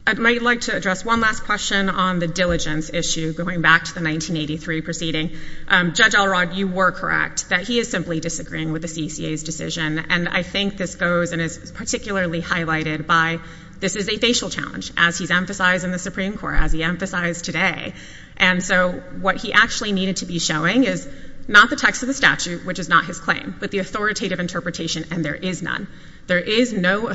I'd like to address one last question on the diligence issue, going back to the 1983 proceeding. Judge Elrod, you were correct. That he is simply disagreeing with the CCA's decision. And I think this goes and is particularly highlighted by this is a facial challenge, as he's emphasized in the Supreme Court, as he emphasized today. And so what he actually needed to be showing is not the text of the statute, which is not his claim, but the authoritative interpretation, and there is none. There is no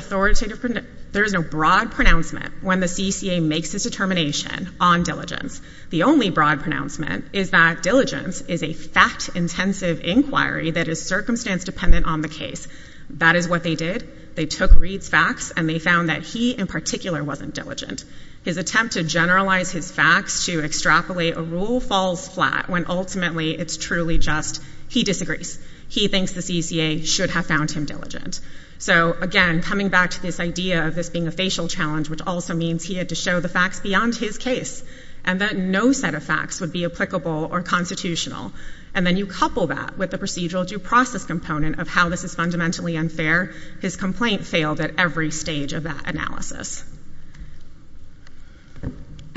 broad pronouncement when the CCA makes a determination on diligence. The only broad pronouncement is that diligence is a fact-intensive inquiry that is circumstance dependent on the case. That is what they did. They took Reed's facts, and they found that he in particular wasn't diligent. His attempt to generalize his facts to extrapolate a rule falls flat when ultimately it's truly just he disagrees. He thinks the CCA should have found him diligent. So again, coming back to this idea of this being a facial challenge, which also means he had to show the facts beyond his case. And that no set of facts would be applicable or constitutional. And then you couple that with the procedural due process component of how this is fundamentally unfair. His complaint failed at every stage of that analysis.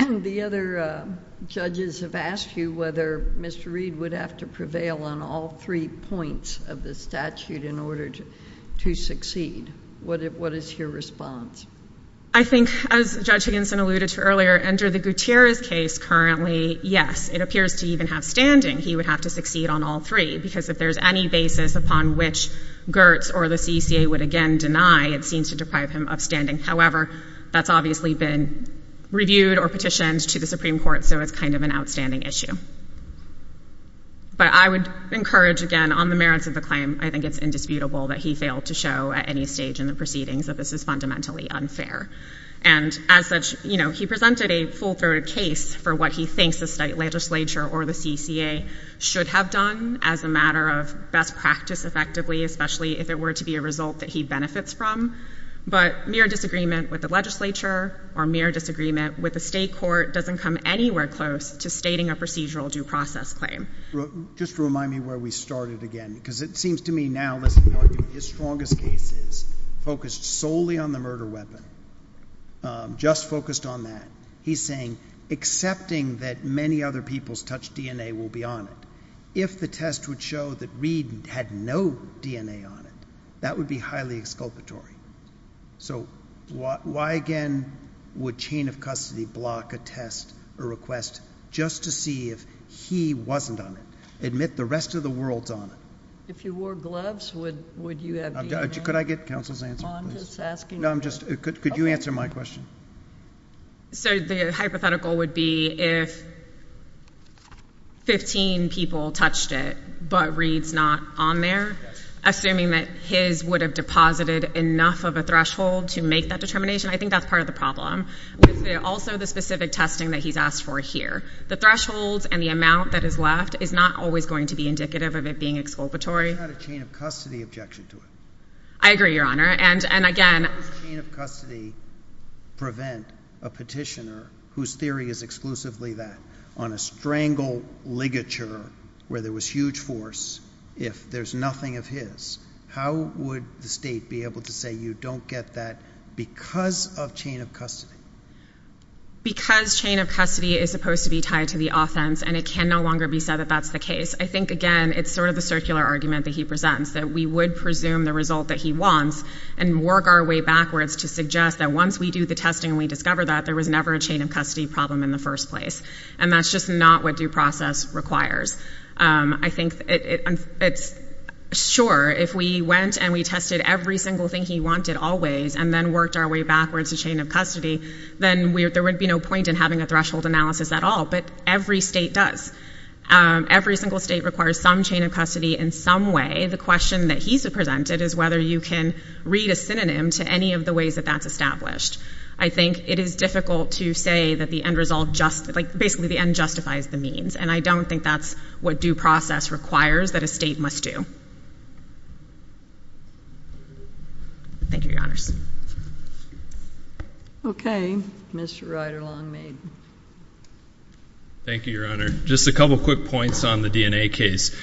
JUSTICE GINSBURG-RODGERS And the other judges have asked you whether Mr. Reed would have to prevail on all three points of the statute in order to succeed. What is your response? I think, as Judge Higginson alluded to earlier, under the Gutierrez case currently, yes, it appears to even have standing. He would have to succeed on all three, because if there's any basis upon which Gertz or the CCA would again deny, it seems to deprive him of standing. However, that's obviously been reviewed or petitioned to the Supreme Court, so it's kind of an outstanding issue. But I would encourage, again, on the merits of the claim, I think it's indisputable that he failed to show at any stage in the proceedings that this is fundamentally unfair. And as such, you know, he presented a full-throated case for what he thinks the state legislature or the CCA should have done as a matter of best practice effectively, especially if it were to be a result that he benefits from. But mere disagreement with the legislature or mere disagreement with the state court doesn't come anywhere close to stating a procedural due process claim. Just remind me where we started again, because it seems to me now, listen, his strongest case is focused solely on the murder weapon, just focused on that. He's saying, accepting that many other people's touched DNA will be on it. If the test would show that Reed had no DNA on it, that would be highly exculpatory. So why, again, would chain of custody block a test, a request, just to see if he wasn't on it? Admit the rest of the world's on it. If you wore gloves, would you have DNA? Could I get counsel's answer, please? Oh, I'm just asking. No, I'm just, could you answer my question? So the hypothetical would be if 15 people touched it, but Reed's not on there, assuming that his would have deposited enough of a threshold to make that determination. I think that's part of the problem. With also the specific testing that he's asked for here, the thresholds and the amount that is left is not always going to be indicative of it being exculpatory. It's not a chain of custody objection to it. I agree, Your Honor. And, and again. How does chain of custody prevent a petitioner whose theory is exclusively that on a strangle ligature where there was huge force, if there's nothing of his, how would the state be able to say you don't get that because of chain of custody? Because chain of custody is supposed to be tied to the offense, and it can no longer be said that that's the case. I think, again, it's sort of the circular argument that he presents, that we would presume the result that he wants and work our way backwards to suggest that once we do the testing and we discover that there was never a chain of custody problem in the first place. And that's just not what due process requires. I think it's, sure, if we went and we tested every single thing he wanted always and then worked our way backwards to chain of custody, then there would be no point in having a threshold analysis at all. But every state does. Every single state requires some chain of custody in some way. The question that he's presented is whether you can read a synonym to any of the ways that that's established. I think it is difficult to say that the end result just, like, basically the end justifies the means. And I don't think that's what due process requires that a state must do. Thank you, Your Honors. Okay. Mr. Rider-Long-Maiden. Thank you, Your Honor. Just a couple quick points on the DNA case.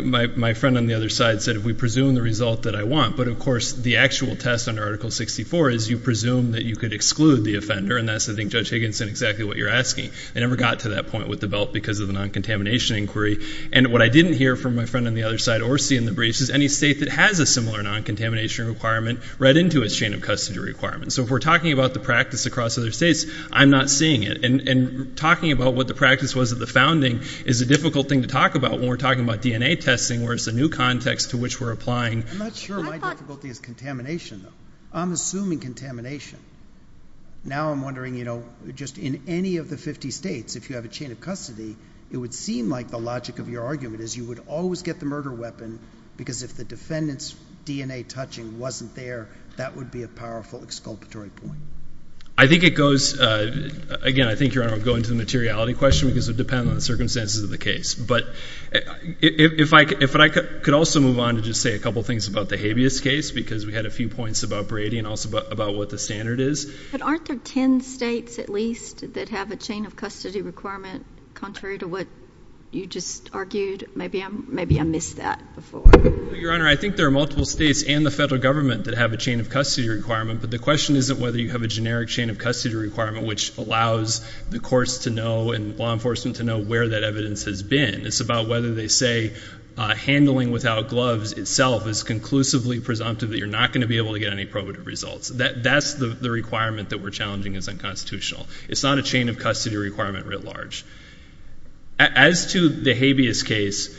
My friend on the other side said if we presume the result that I want, but of course the actual test under Article 64 is you presume that you could exclude the offender. And that's, I think, Judge Higginson, exactly what you're asking. They never got to that point with the belt because of the non-contamination inquiry. And what I didn't hear from my friend on the other side or see in the briefs is any state that has a similar non-contamination requirement read into its chain of custody requirement. So if we're talking about the practice across other states, I'm not seeing it. And talking about what the practice was at the founding is a difficult thing to talk about when we're talking about DNA testing, where it's a new context to which we're applying. I'm not sure my difficulty is contamination, though. I'm assuming contamination. Now I'm wondering, you know, just in any of the 50 states, if you have a chain of custody, it would seem like the logic of your argument is you would always get the murder weapon because if the defendant's DNA touching wasn't there, that would be a powerful exculpatory point. I think it goes, again, I think, Your Honor, I'll go into the materiality question because it depends on the circumstances of the case. But if I could also move on to just say a couple things about the habeas case because we had a few points about Brady and also about what the standard is. But aren't there 10 states at least that have a chain of custody requirement contrary to what you just argued? Maybe I missed that before. Your Honor, I think there are multiple states and the federal government that have a chain of custody requirement. But the question isn't whether you have a generic chain of custody requirement, which allows the courts to know and law enforcement to know where that evidence has been. It's about whether they say handling without gloves itself is conclusively presumptive that you're not going to be able to get any probative results. That's the requirement that we're challenging as unconstitutional. It's not a chain of custody requirement writ large. As to the habeas case,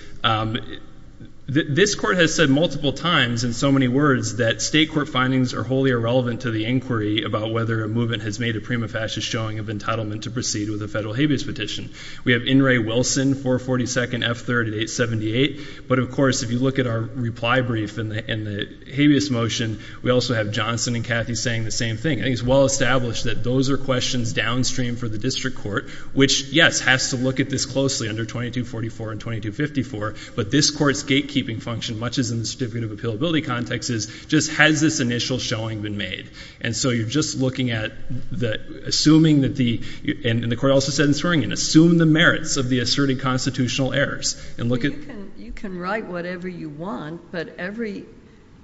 this court has said multiple times in so many words that state court findings are wholly irrelevant to the inquiry about whether a movement has made a prima facie showing of entitlement to proceed with a federal habeas petition. We have In re Wilson, 442nd F3rd at 878. But of course, if you look at our reply brief and the habeas motion, we also have Johnson and Cathy saying the same thing. I think it's well established that those are questions downstream for the district court, which, yes, has to look at this closely under 2244 and 2254. But this court's gatekeeping function, much as in the certificate of appealability context, is just has this initial showing been made? And so you're just looking at the assuming that the, and the court also said in the reply brief, assume the merits of the asserted constitutional errors. And look at you can write whatever you want, but every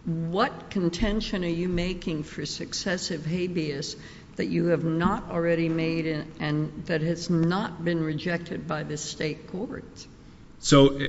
what contention are you making for successive habeas that you have not already made and that has not been rejected by the state courts? So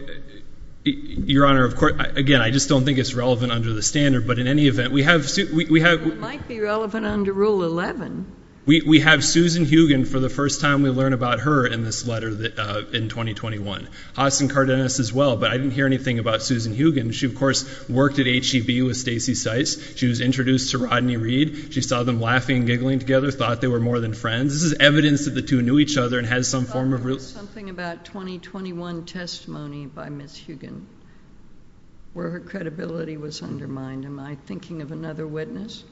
your Honor, of course, again, I just don't think it's relevant under the standard. But in any event, we have we have might be relevant under Rule 11. We have Susan Hugen for the first time. We learn about her in this letter that in 2021, Austin Cardenas as well. But I didn't hear anything about Susan Hugen. She, of course, worked at HGV with Stacy sites. She was introduced to Rodney Reed. She saw them laughing, giggling together, thought they were more than friends. This is evidence that the two knew each other and has some form of something about 2021 testimony by Miss Hugen where her credibility was undermined. Am I thinking of another witness?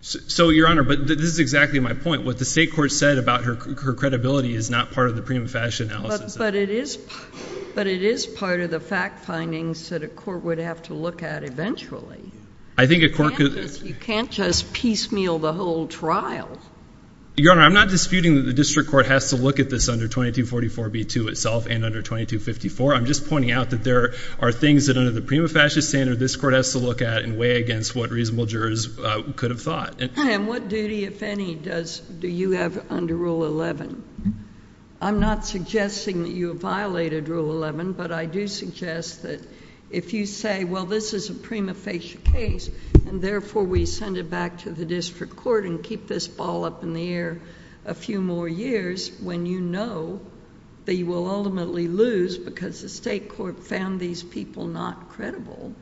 So your Honor, but this is exactly my point. What the state court said about her credibility is not part of the prima facie analysis. But it is. But it is part of the fact findings that a court would have to look at eventually. I think a court could. You can't just piecemeal the whole trial. Your Honor, I'm not disputing that the district court has to look at this under 2244B2 itself and under 2254. I'm just pointing out that there are things that under the prima facie standard, this court has to look at and weigh against what reasonable jurors could have thought. And what duty, if any, do you have under Rule 11? I'm not suggesting that you violated Rule 11, but I do suggest that if you say, well, this is a prima facie case, and therefore we send it back to the district court and keep this ball up in the air a few more years when you know that you will ultimately lose because the state court found these people not credible.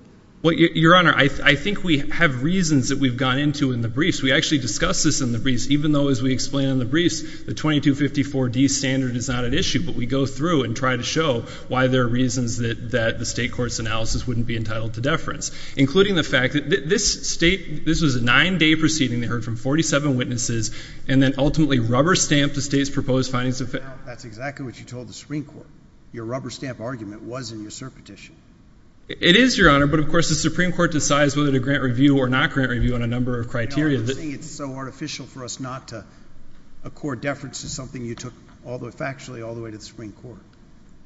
Well, Your Honor, I think we have reasons that we've gone into in the briefs. We actually discuss this in the briefs, even though, as we explain in the briefs, the 2254D standard is not at issue. But we go through and try to show why there are reasons that the state court's analysis wouldn't be entitled to deference, including the fact that this state, this was a nine day proceeding. They heard from 47 witnesses and then ultimately rubber stamped the state's proposed findings. That's exactly what you told the Supreme Court. Your rubber stamp argument was in your cert petition. It is, Your Honor. But, of course, the Supreme Court decides whether to grant review or not grant review on a number of criteria. It's so artificial for us not to accord deference to something you took factually all the way to the Supreme Court.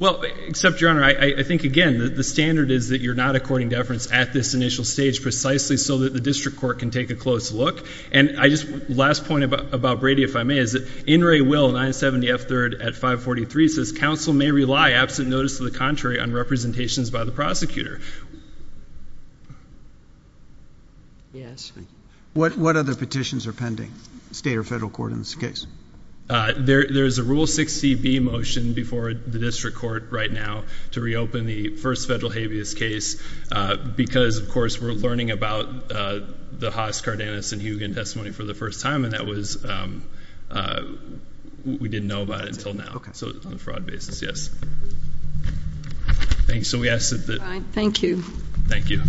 Well, except, Your Honor, I think, again, the standard is that you're not according deference at this initial stage precisely so that the district court can take a closer look. And I just, last point about Brady, if I may, is that In re Will 970F3rd at 543 says, Council may rely, absent notice to the contrary, on representations by the prosecutor. Yes. What other petitions are pending, state or federal court, in this case? There's a Rule 6CB motion before the district court right now to reopen the first federal habeas case because, of course, we're learning about the Haas, Cardenas, and Hugin testimony for the first time. And that was, we didn't know about it until now. Okay. So it's on a fraud basis, yes. Thanks. So we ask that- All right. Thank you. Thank you. Thank you.